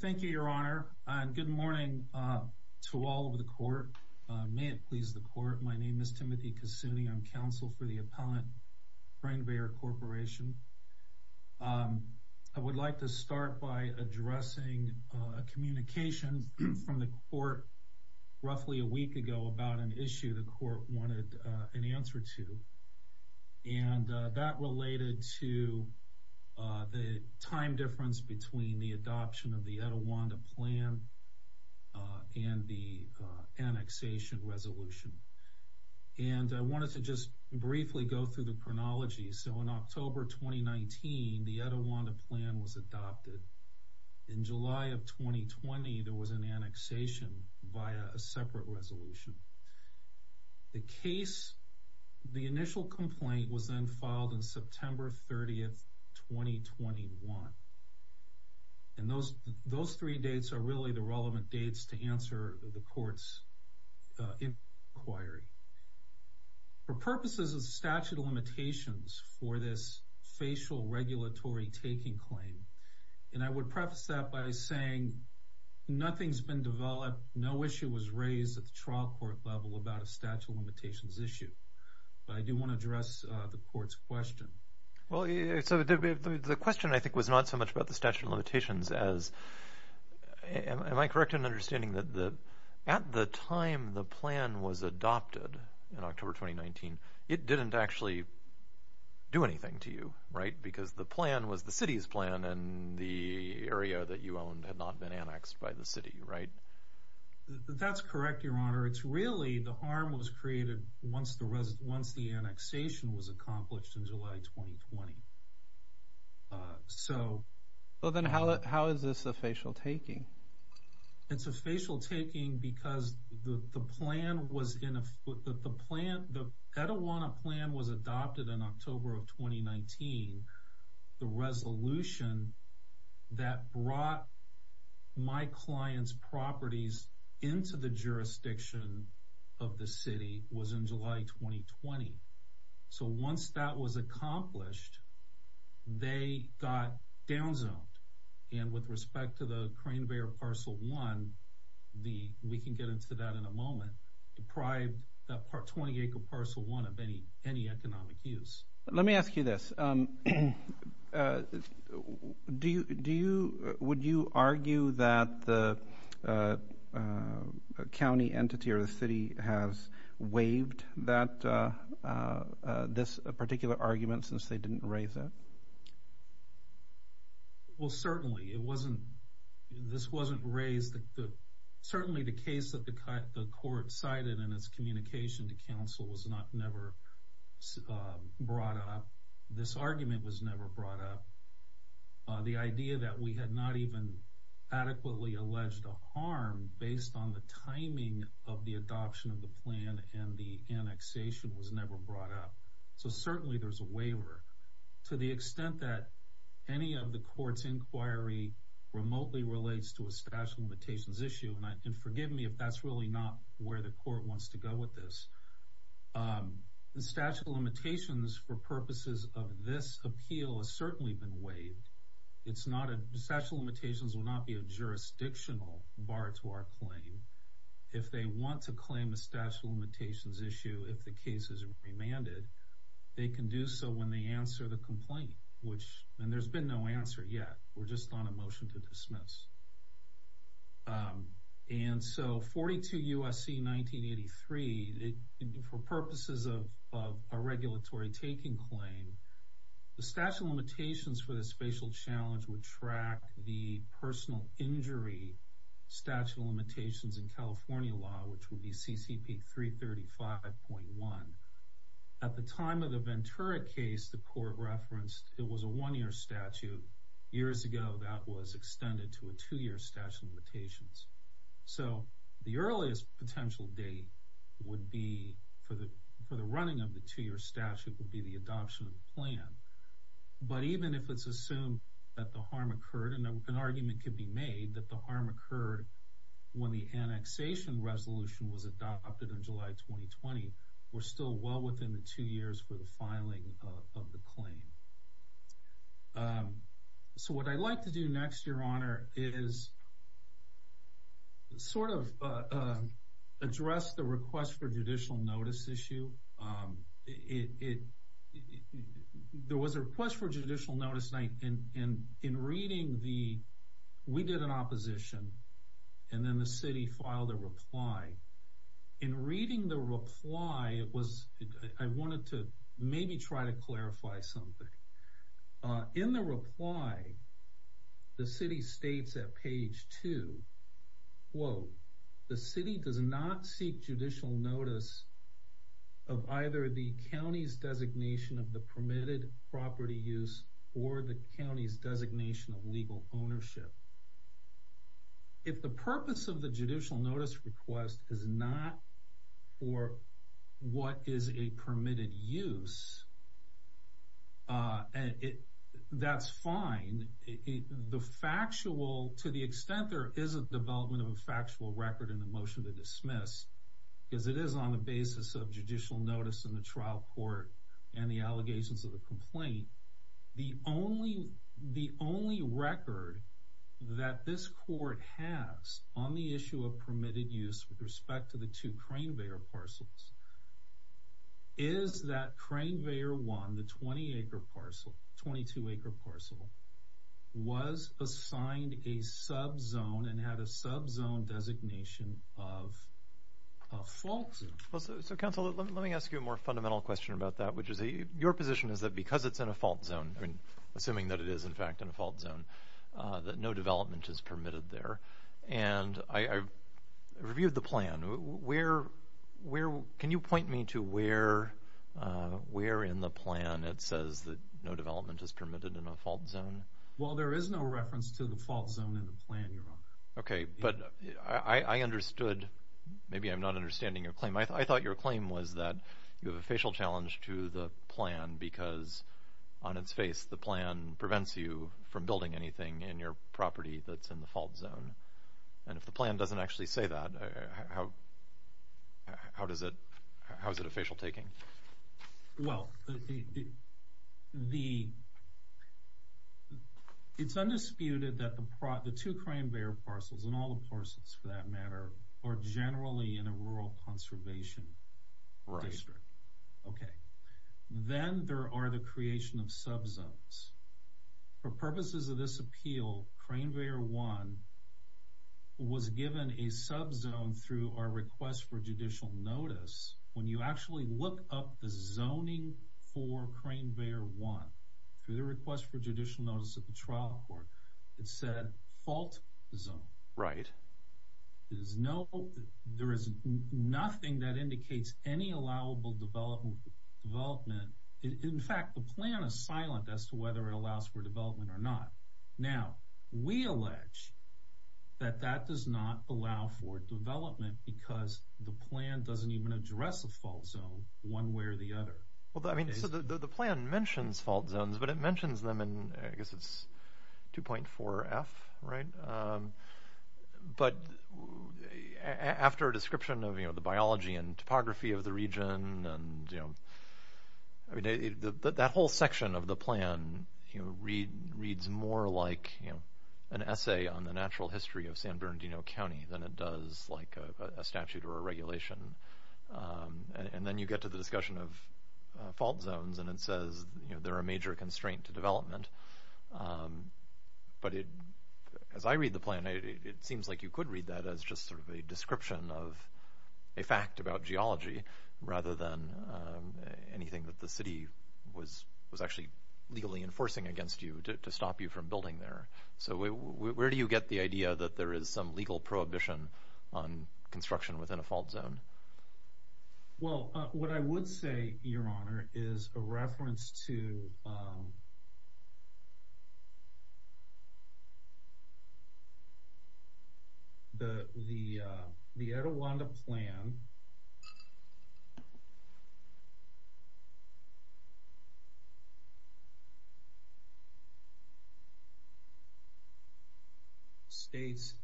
Thank you, Your Honor. Good morning to all of the Court. May it please the Court, my name is Timothy Cassuni. I'm counsel for the Appellant Craneveyor Corporation. I would like to start by addressing a communication from the Court roughly a week ago about an answer to, and that related to the time difference between the adoption of the Etiwanda Plan and the annexation resolution. And I wanted to just briefly go through the chronology. So in October 2019, the Etiwanda Plan was adopted. In July of 2020, there was an annexation via a separate resolution. The case, the initial complaint, was then filed on September 30, 2021. And those three dates are really the relevant dates to answer the Court's inquiry. For purposes of statute of limitations for this facial regulatory taking claim, and I would preface that by saying nothing's been developed, no issue was raised at the trial court level about a statute of limitations issue. But I do want to address the Court's question. Well, the question, I think, was not so much about the statute of limitations as, am I correct in understanding that at the time the plan was adopted in October 2019, it didn't actually do anything to you, right? Because the plan was the city's plan, and the area that you owned had not been annexed by the city, right? That's correct, Your Honor. It's really, the harm was created once the annexation was accomplished in July 2020. So... Well, then how is this a facial taking? It's a facial taking because the plan was in a... The plan, the Etiwanda plan was adopted in October of 2019. The resolution that brought my client's properties into the jurisdiction of the city was in July 2020. So once that was accomplished, they got downzoned. And with respect to the Crane Bayer Parcel 1, we can get into that in a moment, deprived that 20-acre Parcel 1 of any economic use. Let me ask you this. Would you argue that the county entity or the city has waived this particular argument since they didn't raise it? Well, certainly. It wasn't... This wasn't raised... Certainly the case that the court cited in its communication to council was not never brought up. This argument was never brought up. The idea that we had not even adequately alleged a harm based on the timing of the adoption of the plan and the annexation was never brought up. So certainly there's a waiver. To the extent that any of the court's inquiry remotely relates to a statute of limitations issue, and forgive me if that's really not where the court wants to go with this, the statute of limitations for purposes of this appeal has certainly been waived. It's not a... Statute of limitations will not be a jurisdictional bar to our claim. If they want to claim a statute of limitations issue, if the case is remanded, they can do so when they answer the complaint, which... And there's been no answer yet. We're just on a motion to dismiss. And so 42 U.S.C. 1983, for purposes of a regulatory taking claim, the statute of limitations for the spatial challenge would track the personal injury statute of limitations in California law, which would be CCP 335.1. At the time of the case, the court referenced it was a one-year statute. Years ago, that was extended to a two-year statute of limitations. So the earliest potential date would be, for the running of the two-year statute, would be the adoption of the plan. But even if it's assumed that the harm occurred, and an argument could be made that the harm occurred when the annexation resolution was adopted in July 2020, we're still well within the two years for the filing of the claim. So what I'd like to do next, Your Honor, is sort of address the request for judicial notice issue. There was a request for judicial notice, and in reading the... We did an opposition, and then the city filed a reply. In reading the reply, I wanted to maybe try to clarify something. In the reply, the city states at page two, quote, the city does not seek judicial notice of either the county's designation of the permitted property use or the county's designation of legal ownership. If the purpose of the judicial use... That's fine. To the extent there is a development of a factual record in the motion to dismiss, because it is on the basis of judicial notice in the trial court and the allegations of the complaint, the only record that this court has on the issue of permitted use with respect to the two Crane Bayer parcels is that Crane Bayer 1, the 20-acre parcel, 22-acre parcel, was assigned a sub-zone and had a sub-zone designation of a fault zone. So, counsel, let me ask you a more fundamental question about that, which is your position is that because it's in a fault zone, assuming that it is in fact in a fault zone, that no review of the plan, where... Can you point me to where in the plan it says that no development is permitted in a fault zone? Well, there is no reference to the fault zone in the plan, Your Honor. Okay, but I understood. Maybe I'm not understanding your claim. I thought your claim was that you have a facial challenge to the plan because on its face, the plan prevents you from building anything in your property that's in the fault zone. And if the plan doesn't actually say that, how is it a facial taking? Well, it's undisputed that the two Crane Bayer parcels, and all the parcels for that matter, are generally in a rural conservation district. Okay, then there are the creation of sub-zones. For purposes of this appeal, Crane Bayer 1 was given a sub-zone through our request for judicial notice. When you actually look up the zoning for Crane Bayer 1 through the request for judicial notice at the trial court, it said fault zone. Right. There is nothing that indicates any allowable development. In fact, the plan is that that does not allow for development because the plan doesn't even address the fault zone one way or the other. Well, I mean, so the plan mentions fault zones, but it mentions them in, I guess it's 2.4 F, right? But after a description of the biology and topography of the region, you know, that whole section of the plan reads more like an essay on the natural history of San Bernardino County than it does like a statute or a regulation. And then you get to the discussion of fault zones, and it says they're a major constraint to development. But as I read the plan, it seems like you could read that as just sort of a description of a fact about geology rather than anything that the city was actually legally enforcing against you to stop you from building there. So where do you get the idea that there is some legal prohibition on construction within a fault zone? Well, what I would say, Your Honor, is a reference to the Etiwanda plan. It states,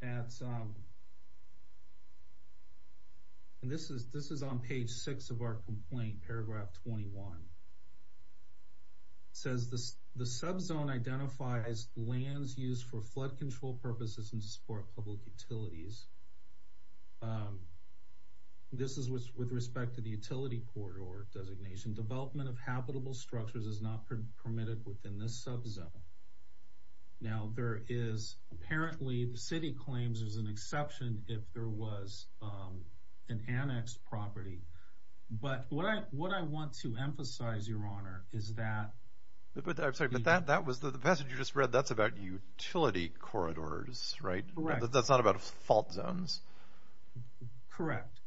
and this is on page six of our complaint, paragraph 21. It says the subzone identifies lands used for flood control purposes and to support public with respect to the utility corridor designation. Development of habitable structures is not permitted within this subzone. Now, there is, apparently, the city claims there's an exception if there was an annexed property. But what I want to emphasize, Your Honor, is that... I'm sorry, but that was the passage you just read. That's about utility corridors, right? Correct. That's not about fault zones. Correct.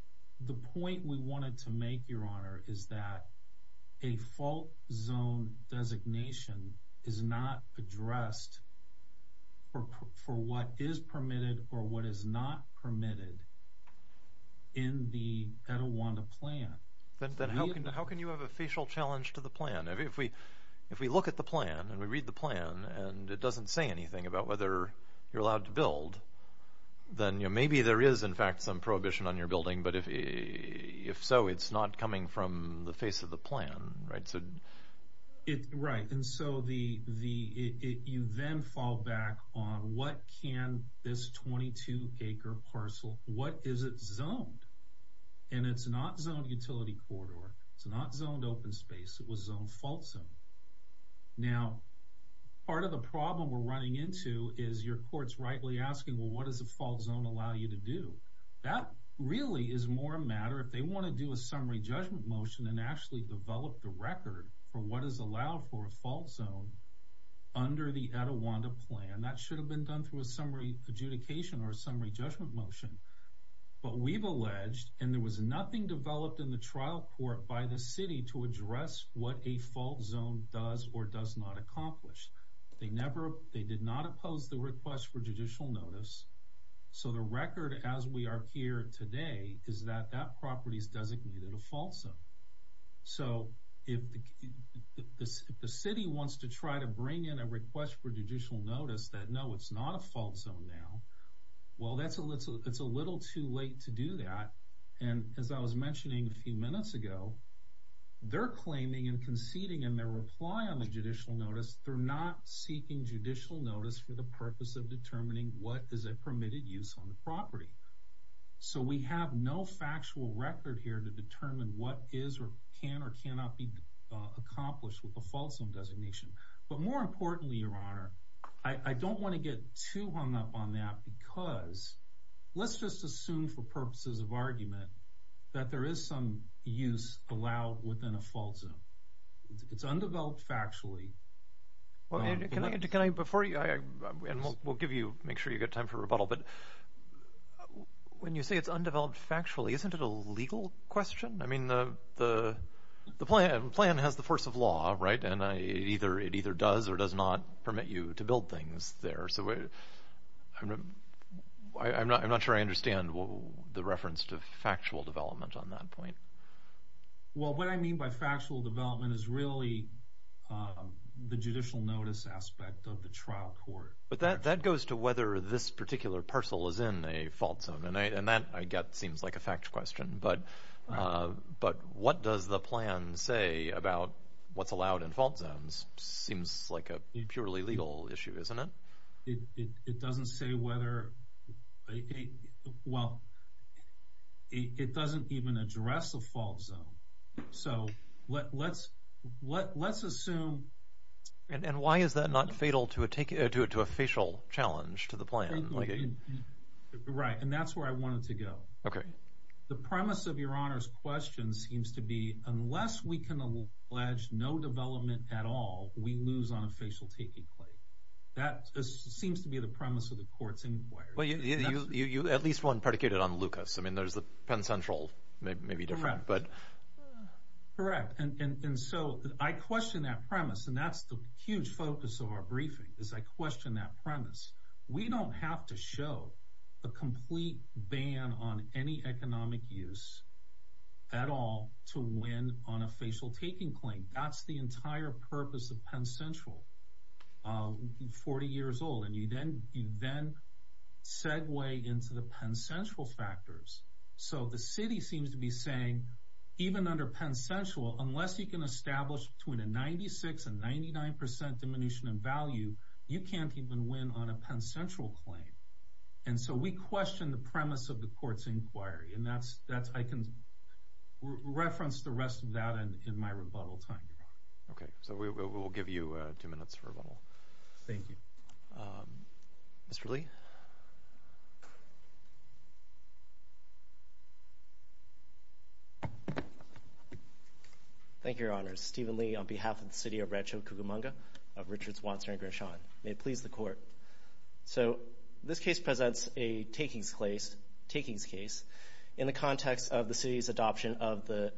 The point we wanted to make, Your Honor, is that a fault zone designation is not addressed for what is permitted or what is not permitted in the Etiwanda plan. Then how can you have a facial challenge to the plan? If we look at the build, then maybe there is, in fact, some prohibition on your building. But if so, it's not coming from the face of the plan, right? Right. And so you then fall back on what can this 22-acre parcel, what is it zoned? And it's not zoned utility corridor. It's not zoned open space. It was zoned fault zone. Now, part of the problem we're running into is your court's rightly asking, well, what does a fault zone allow you to do? That really is more a matter if they want to do a summary judgment motion and actually develop the record for what is allowed for a fault zone under the Etiwanda plan. That should have been done through a summary adjudication or a summary judgment motion. But we've alleged, and there was nothing developed in the trial court by the city to address what a fault zone does or does not accomplish. They did not oppose the request for judicial notice. So the record as we are here today is that that property is designated a fault zone. So if the city wants to try to bring in a request for judicial notice that, no, it's not a fault zone now, well, it's a little too late to do that. And as I was mentioning a few minutes ago, they're claiming and conceding in their reply on the judicial notice, they're not seeking judicial notice for the purpose of determining what is a permitted use on the property. So we have no factual record here to determine what is or can or cannot be accomplished with a fault zone designation. But more importantly, Your Honor, I don't want to get too hung up on that because let's just assume for purposes of argument that there is some use allowed within a fault zone. It's undeveloped factually. Well, can I, before you, and we'll give you, make sure you've got time for rebuttal, but when you say it's undeveloped factually, isn't it a legal question? I mean, the plan has the force of law, right? And it either does or does not permit you to build things there. So I'm not sure I understand the reference to factual development on that point. Well, what I mean by factual development is really the judicial notice aspect of the trial court. But that goes to whether this particular parcel is in a fault zone. And that, I get, seems like a fact question. But what does the plan say about what's allowed in fault zones? Seems like a purely legal issue, isn't it? It doesn't say whether, well, it doesn't even address a fault zone. So let's assume. And why is that not fatal to a facial challenge to the plan? Right, and that's where I wanted to go. The premise of Your Honor's question seems to be the premise of the court's inquiry. Well, you at least one predicated on Lucas. I mean, there's the Penn Central, maybe different. Correct. And so I question that premise. And that's the huge focus of our briefing, is I question that premise. We don't have to show a complete ban on any economic use at all to win on a facial taking claim. That's the entire purpose of Penn Central. You're 40 years old, and you then segue into the Penn Central factors. So the city seems to be saying, even under Penn Central, unless you can establish between a 96% and 99% diminution in value, you can't even win on a Penn Central claim. And so we question the premise of the court's inquiry. And I can reference the rest of that in my rebuttal time, Your Honor. Okay, so we will give you two minutes for rebuttal. Mr. Lee. Thank you, Your Honor. Stephen Lee on behalf of the city of Rancho Cucamonga, of Richards, Wadsworth, and Grishawn. May it please the court. So this case presents a takings case in the context of the city's adoption of the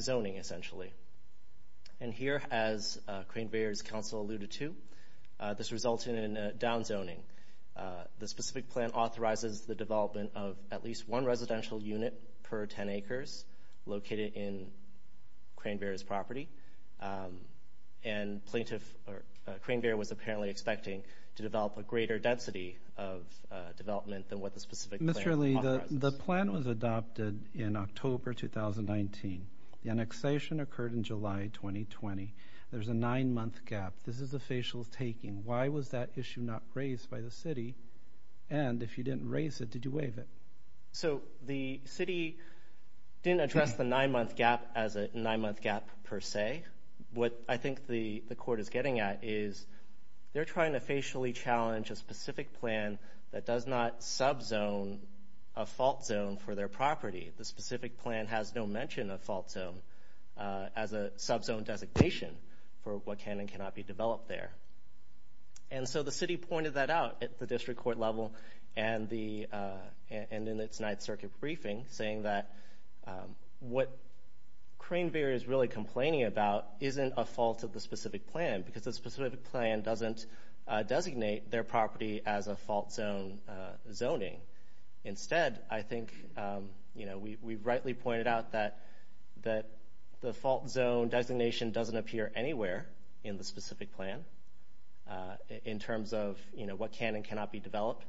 zoning, essentially. And here, as Crane-Bear's counsel alluded to, this resulted in downzoning. The specific plan authorizes the development of at least one residential unit per 10 acres located in Crane-Bear's property. And Crane-Bear was apparently expecting to develop a greater density of development than what the specific plan authorizes. The plan was adopted in October 2019. The annexation occurred in July 2020. There's a nine-month gap. This is the facials taking. Why was that issue not raised by the city? And if you didn't raise it, did you waive it? So the city didn't address the nine-month gap as a nine-month gap per se. What I think the court is getting at is they're trying to facially challenge a specific plan that does not subzone a fault zone for their property. The specific plan has no mention of fault zone as a subzone designation for what can and cannot be developed there. And so the city pointed that out at the district court level and in its Ninth Circuit briefing, saying that what Crane-Bear is really complaining about isn't a fault of the specific plan, because the specific plan doesn't designate their property as a fault zone zoning. Instead, I think we rightly pointed out that the fault zone designation doesn't appear anywhere in the specific plan in terms of what can and cannot be developed.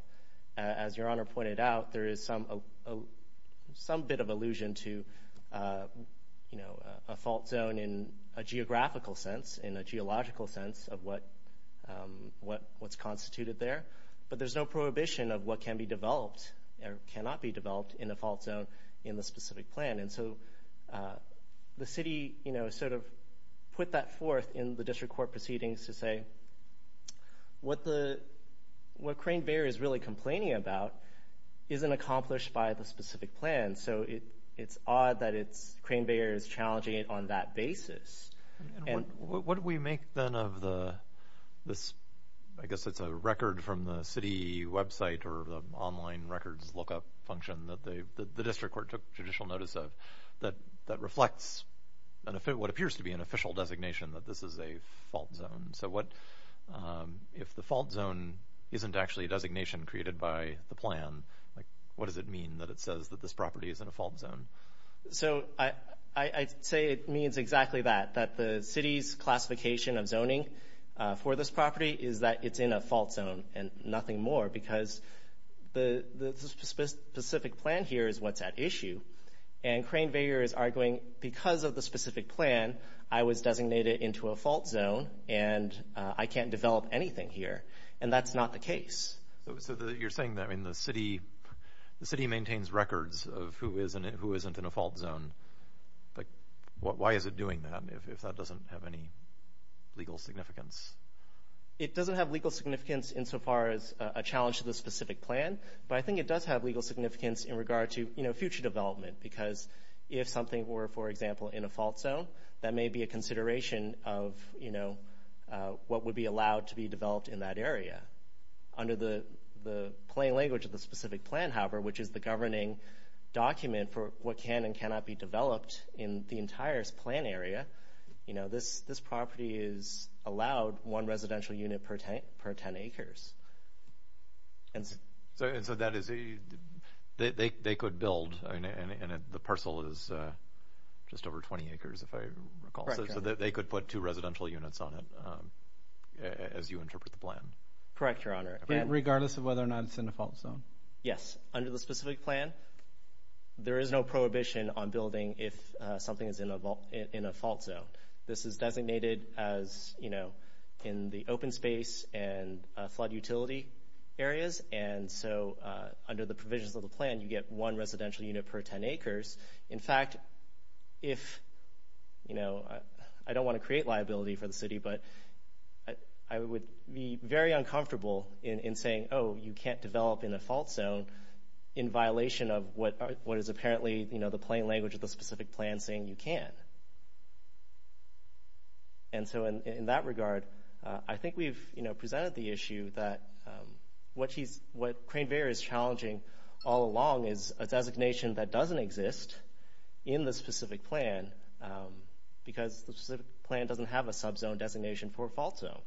As Your Honor pointed out, there is some bit of allusion to a fault zone in a geographical sense, in a geological sense of what's constituted there, but there's no prohibition of what can be developed or cannot be developed in a fault zone in the specific plan. And so the city, you know, sort of put that forth in the district court proceedings to say what Crane-Bear is really complaining about isn't accomplished by the specific plan. So it's odd that Crane-Bear is challenging it on that basis. And what do we make then of this, I guess it's a record from the city website or the online records lookup function that the district court took judicial notice of, that reflects what appears to be an official designation that this is a fault zone. So if the fault zone isn't actually a designation created by the plan, like what does it mean that it says that this property is in a fault zone? So I'd say it means exactly that. That the city's classification of zoning for this property is that it's in a fault zone and nothing more because the specific plan here is what's at issue. And Crane-Bear is arguing because of the specific plan, I was designated into a fault zone and I can't develop anything here. And that's not the case. So you're saying that the city maintains records of who is and who isn't in a fault zone, but why is it doing that if that doesn't have any legal significance? It doesn't have legal significance insofar as a challenge to the specific plan, but I think it does have legal significance in regard to future development because if something were, for example, in a fault zone, that may be a consideration of what would be allowed to be developed in that area under the plain language of the specific plan, however, which is the governing document for what can and cannot be developed in the entire plan area. You know, this property is allowed one residential unit per 10 acres. And so that is, they could build, and the parcel is just over 20 acres, if I recall. Correct. So they could put two residential units on it as you interpret the plan. Correct, Your Honor. Regardless of whether or not it's in a fault zone. Yes. Under the specific plan, there is no prohibition on building if something is in a fault zone. This is designated as, you know, in the open space and flood utility areas. And so under the provisions of the plan, you get one residential unit per 10 acres. In fact, if, you know, I don't want to create liability for the city, but I would be very uncomfortable in saying, oh, you can't develop in a fault zone in violation of what is apparently, you know, the plain language of the specific plan saying you can. And so in that regard, I think we've, you know, presented the issue that what Crane-Vera is challenging all along is a designation that doesn't exist in the specific plan because the specific plan doesn't have a subzone designation for a fault zone.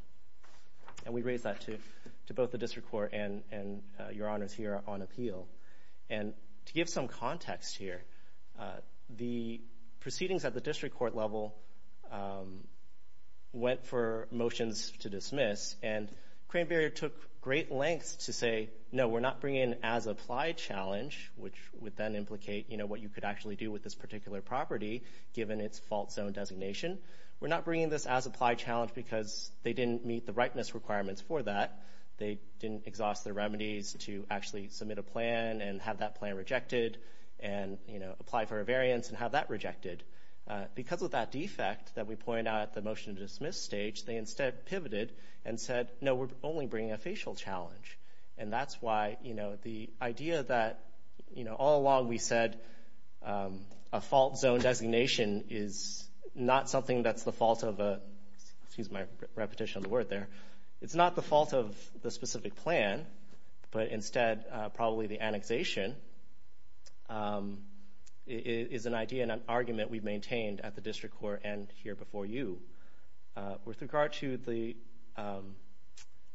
And we raise that to both the district court and Your Honors here on appeal. And to give some context here, the proceedings at the district court level went for motions to dismiss, and Crane-Vera took great lengths to say, no, we're not bringing in as applied challenge, which would then implicate, you know, what you could actually do with this particular property given its fault zone designation. We're not bringing this as applied challenge because they didn't meet the rightness requirements for that. They didn't exhaust the remedies to actually submit a plan and have that plan rejected and, you know, apply for a variance and have that rejected. Because of that defect that we point out at the motion to dismiss stage, they instead pivoted and said, no, we're only bringing a facial challenge. And that's why, you know, the idea that, you know, all along we said a fault zone designation is not something that's the fault of a, excuse my repetition of the word there, it's not the fault of the specific plan, but instead, probably the annexation is an idea and an argument we've maintained at the district court and here before you. With regard to the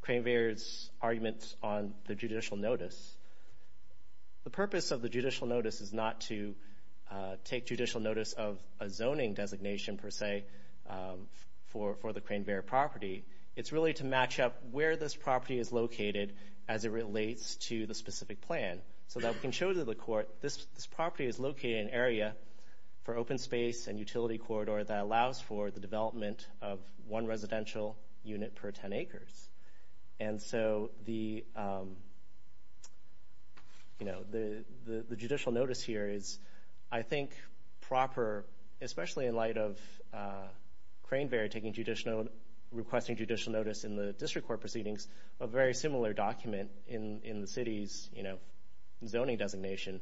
Cranevair's arguments on the judicial notice, the purpose of the judicial notice is not to take judicial notice of a zoning designation per se for the Cranevair property. It's really to match up where this property is located as it relates to the specific plan. So that we can show to the court this property is located in an area for open space and utility corridor that allows for the development of one residential unit per 10 acres. And so the, you know, the judicial notice here is, I think, proper, especially in light of Cranevair taking judicial, requesting judicial notice in the district court proceedings, a very similar document in the city's, you know, zoning designation,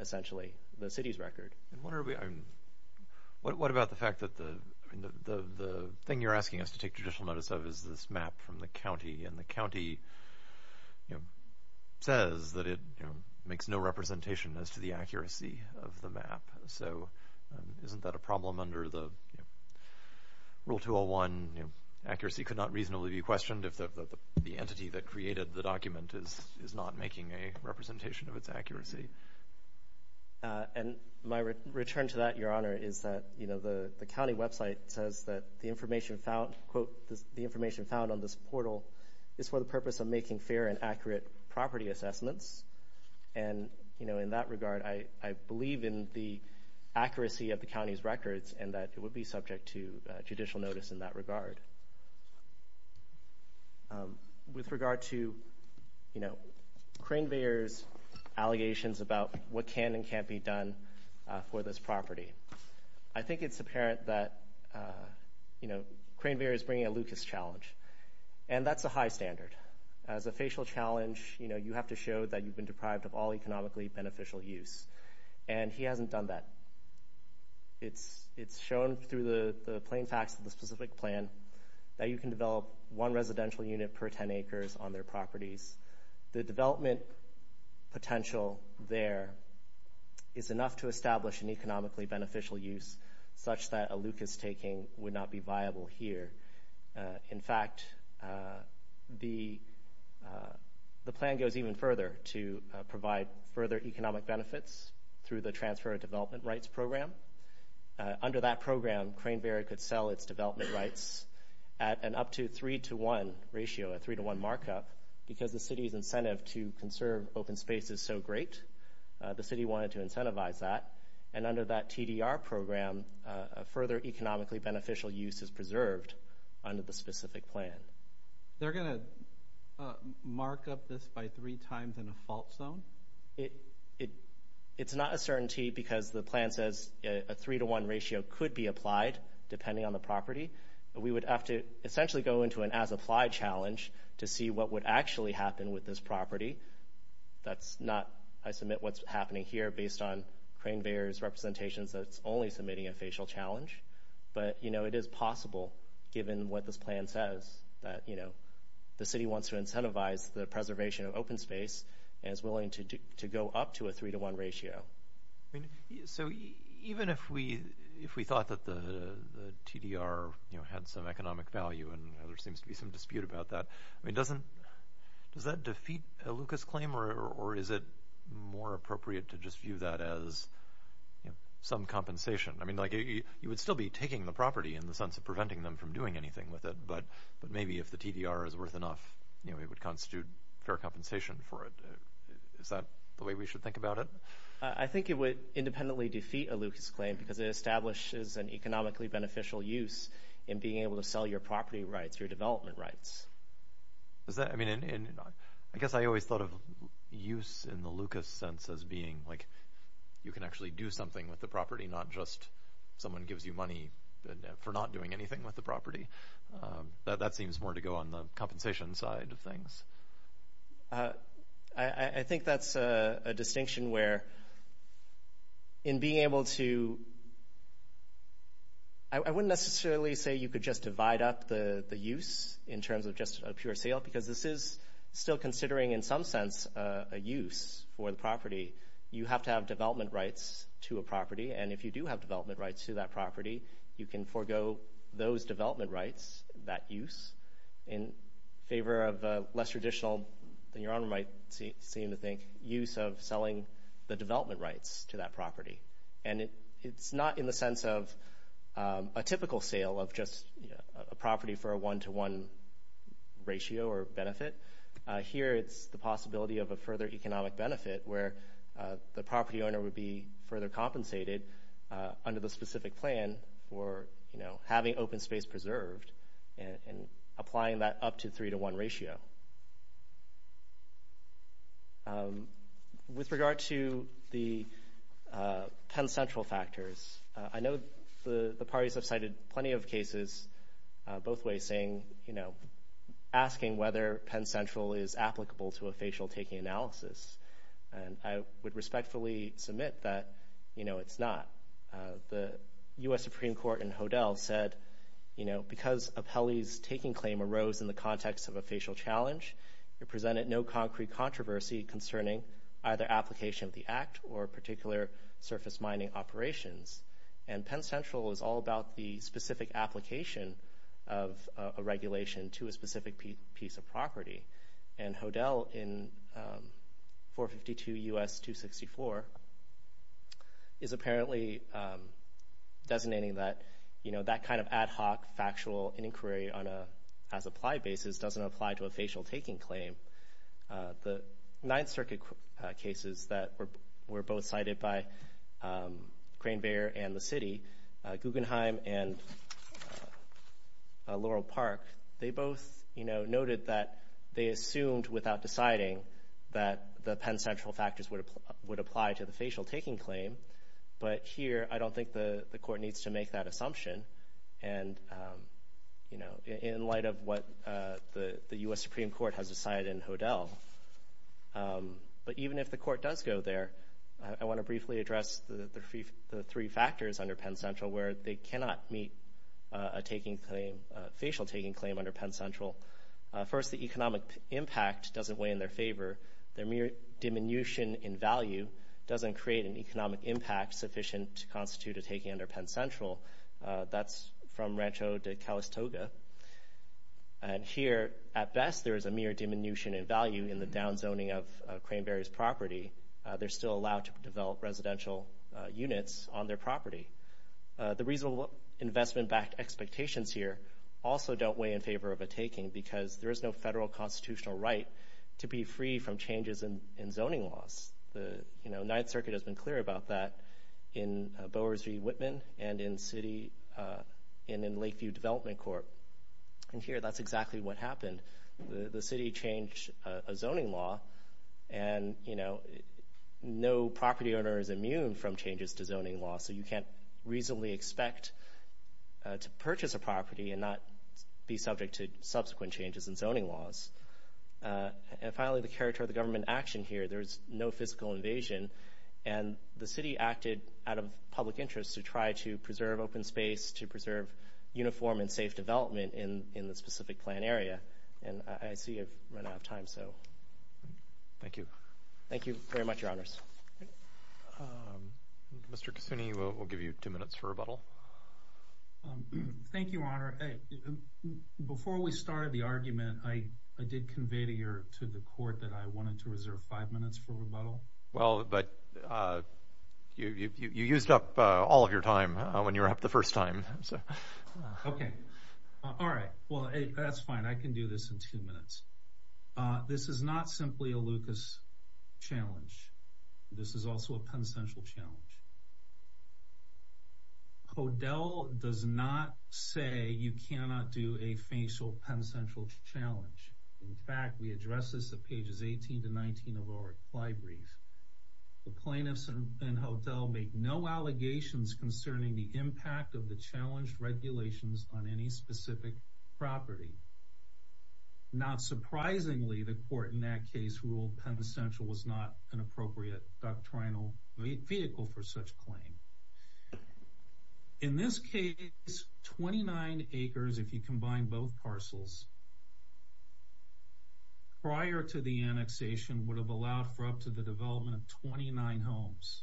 essentially, the city's record. And what are we, I mean, what about the fact that the, I mean, the thing you're asking us to take judicial notice of is this map from the county and the county, you know, says that it, you know, makes no representation as to the accuracy of the map. So isn't that a problem under the rule 201, you know, accuracy could not reasonably be questioned if the entity that created the document is not making a representation of its accuracy? And my return to that, Your Honor, is that, you know, the county website says that the information found, quote, the information found on this portal is for the purpose of making fair and accurate property assessments. And, you know, in that regard, I believe in the accuracy of the county's records and that it would be subject to judicial notice in that regard. With regard to, you know, Crane-Bayer's allegations about what can and can't be done for this property, I think it's apparent that, you know, Crane-Bayer is bringing a Lucas challenge, and that's a high standard. As a facial challenge, you know, you have to show that you've been deprived of all economically beneficial use, and he hasn't done that. It's shown through the plain facts of the specific plan that you can develop one residential unit per 10 acres on their properties. The development potential there is enough to establish an economically beneficial use such that a Lucas taking would not be viable here. In fact, the plan goes even further to provide further economic benefits through the transfer of development rights program. Under that program, Crane-Bayer could sell its development rights at an up to 3-to-1 ratio, a 3-to-1 markup, because the city's incentive to conserve open space is so great. The city wanted to incentivize that, and under that TDR program, a further economically beneficial use is preserved under the specific plan. They're going to mark up this by three times in a fault zone? It's not a certainty because the plan says a 3-to-1 ratio could be applied depending on the property. We would have to essentially go into an as-applied challenge to see what would actually happen with this property. I submit what's happening here based on Crane-Bayer's representations that it's only submitting a facial challenge, but, you know, it is possible given what this plan says, that, you know, the city wants to incentivize the preservation of open space and is willing to go up to a 3-to-1 ratio. I mean, so even if we thought that the TDR, you know, had some economic value and there seems to be some dispute about that, I mean, does that defeat a Lucas claim, or is it more appropriate to just view that as some compensation? I mean, like, you would still be taking the property in the sense of preventing them from doing anything with it, but maybe if the TDR is worth enough, you know, it would constitute fair compensation for it. Is that the way we should think about it? I think it would independently defeat a Lucas claim because it establishes an economically beneficial use in being able to sell your property rights, your development rights. Is that, I mean, I guess I always thought of use in the Lucas sense as being, like, you can actually do something with the property, not just someone gives you money for not doing anything with the property. That seems more to go on the compensation side of things. I think that's a distinction where in being able to... I wouldn't necessarily say you could just divide up the use in terms of just a pure sale because this is still considering, in some sense, a use for the property. You have to have development rights to a property, and if you do have development rights to that property, you can forego those development rights, that use, in favor of a less traditional than your honor might seem to think use of selling the development rights to that property. And it's not in the sense of a typical sale of just a property for a one-to-one ratio or benefit. Here, it's the possibility of a further economic benefit where the property owner would be further compensated under the specific plan for having open space preserved and applying that up to three-to-one ratio. With regard to the Penn Central factors, I know the parties have cited plenty of cases both ways asking whether Penn Central is applicable to a facial-taking analysis. And I would respectfully submit that, you know, it's not. The U.S. Supreme Court in Hodel said, you know, because of Apelli's taking claim arose in the context of a facial challenge, it presented no concrete controversy concerning either application of the act or particular surface mining operations. And Penn Central is all about the specific application of a regulation to a specific piece of property. And Hodel in 452 U.S. 264 is apparently designating that, you know, that kind of ad hoc factual inquiry on a as-applied basis doesn't apply to a facial-taking claim. The Ninth Circuit cases that were both cited by Crane-Bayer and the city, Guggenheim and Laurel Park, they both, you know, noted that they assumed without deciding that the Penn Central factors would apply to the facial-taking claim. But here, I don't think the court needs to make that assumption. And, you know, in light of what the U.S. Supreme Court has decided in Hodel. But even if the court does go there, I want to briefly address the three factors under Penn Central where they cannot meet a facial-taking claim under Penn Central. First, the economic impact doesn't weigh in their favor. Their mere diminution in value doesn't create an economic impact sufficient to constitute a taking under Penn Central. That's from Rancho de Calistoga. And here, at best, there is a mere diminution in value in the downzoning of Crane-Bayer's property. They're still allowed to develop residential units on their property. The reasonable investment-backed expectations here also don't weigh in favor of a taking because there is no federal constitutional right to be free from changes in zoning laws. The Ninth Circuit has been clear about that in Bowers v. Whitman and in Lakeview Development Court. And here, that's exactly what happened. The city changed a zoning law and, you know, no property owner is immune from changes to zoning law. So you can't reasonably expect to purchase a property and not be subject to subsequent changes in zoning laws. And finally, the character of the government action here. There's no physical invasion. And the city acted out of public interest to try to preserve open space, to preserve uniform and safe development in the specific plan area. And I see I've run out of time, so... Thank you. Thank you very much, Your Honors. Mr. Cassini, we'll give you two minutes for rebuttal. Thank you, Your Honor. Before we started the argument, I did convey to the court that I wanted to reserve five minutes for rebuttal. Well, but you used up all of your time when you were up the first time. Okay. All right. Well, that's fine. I can do this in two minutes. This is not simply a Lucas challenge. This is also a Penn Central challenge. Hodel does not say you cannot do a facial Penn Central challenge. In fact, we address this at pages 18 to 19 of our ply brief. The plaintiffs and Hodel make no allegations concerning the impact of the challenged regulations on any specific property. Not surprisingly, the court in that case ruled Penn Central was not an appropriate doctrinal vehicle for such claim. In this case, 29 acres, if you combine both parcels, prior to the annexation, would have allowed for up to the development of 29 homes.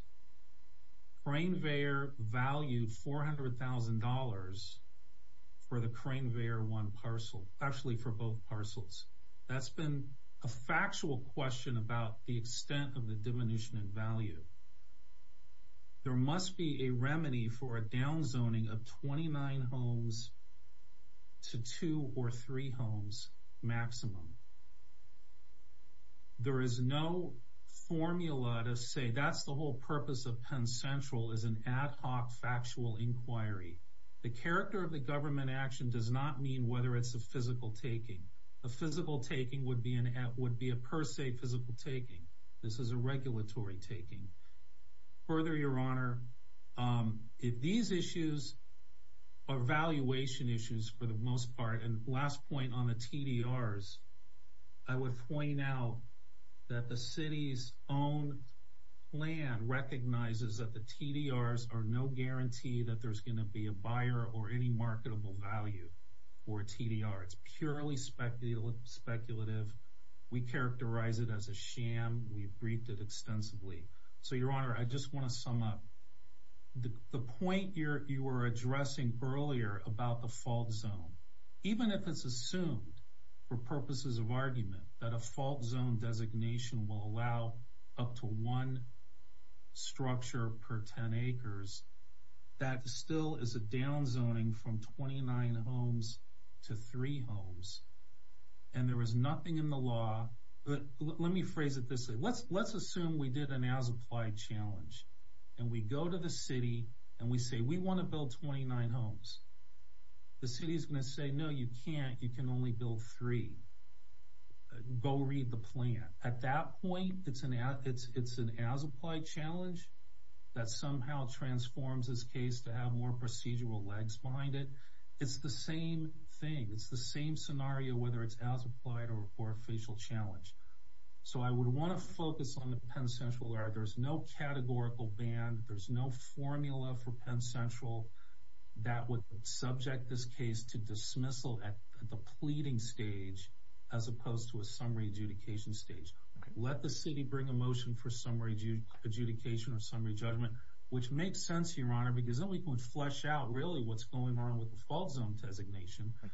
Crane Veyer valued $400,000 for the Crane Veyer 1 parcel, actually for both parcels. That's been a factual question about the extent of the diminution in value. There must be a remedy for a down zoning of 29 homes to two or three homes maximum. There is no formula to say that's the whole purpose of Penn Central is an ad hoc factual inquiry. The character of the government action does not mean whether it's a physical taking. A physical taking would be a per se physical taking. This is a regulatory taking. Further, your honor, if these issues are valuation issues for the most part, and last point on the TDRs, I would point out that the city's own plan recognizes that the TDRs are no guarantee that there's gonna be a buyer or any marketable value for a TDR. It's purely speculative. We characterize it as a sham. We've briefed it extensively. So your honor, I just wanna sum up. The point you were addressing earlier about the fault zone, even if it's assumed for purposes of argument that a fault zone designation will allow up to one structure per 10 acres, that still is a down zoning from 29 homes to three homes. And there was nothing in the law, but let me phrase it this way. Let's assume we did an as-applied challenge and we go to the city and we say, we wanna build 29 homes. The city's gonna say, no, you can't. You can only build three. Go read the plan. At that point, it's an as-applied challenge that somehow transforms this case to have more procedural legs behind it. It's the same thing. It's the same scenario, whether it's as-applied or a facial challenge. So I would wanna focus on the Penn Central area. There's no categorical band. There's no formula for Penn Central that would subject this case to dismissal at the pleading stage as opposed to a summary adjudication stage. Let the city bring a motion for summary adjudication or summary judgment, which makes sense, Your Honor, because then we can flesh out really what's going on with the fault zone designation. Okay,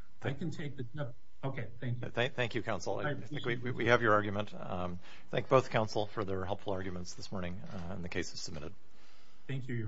thank you. Thank you, counsel. We have your argument. Thank both counsel for their helpful arguments this morning and the cases submitted. Thank you, Your Honor.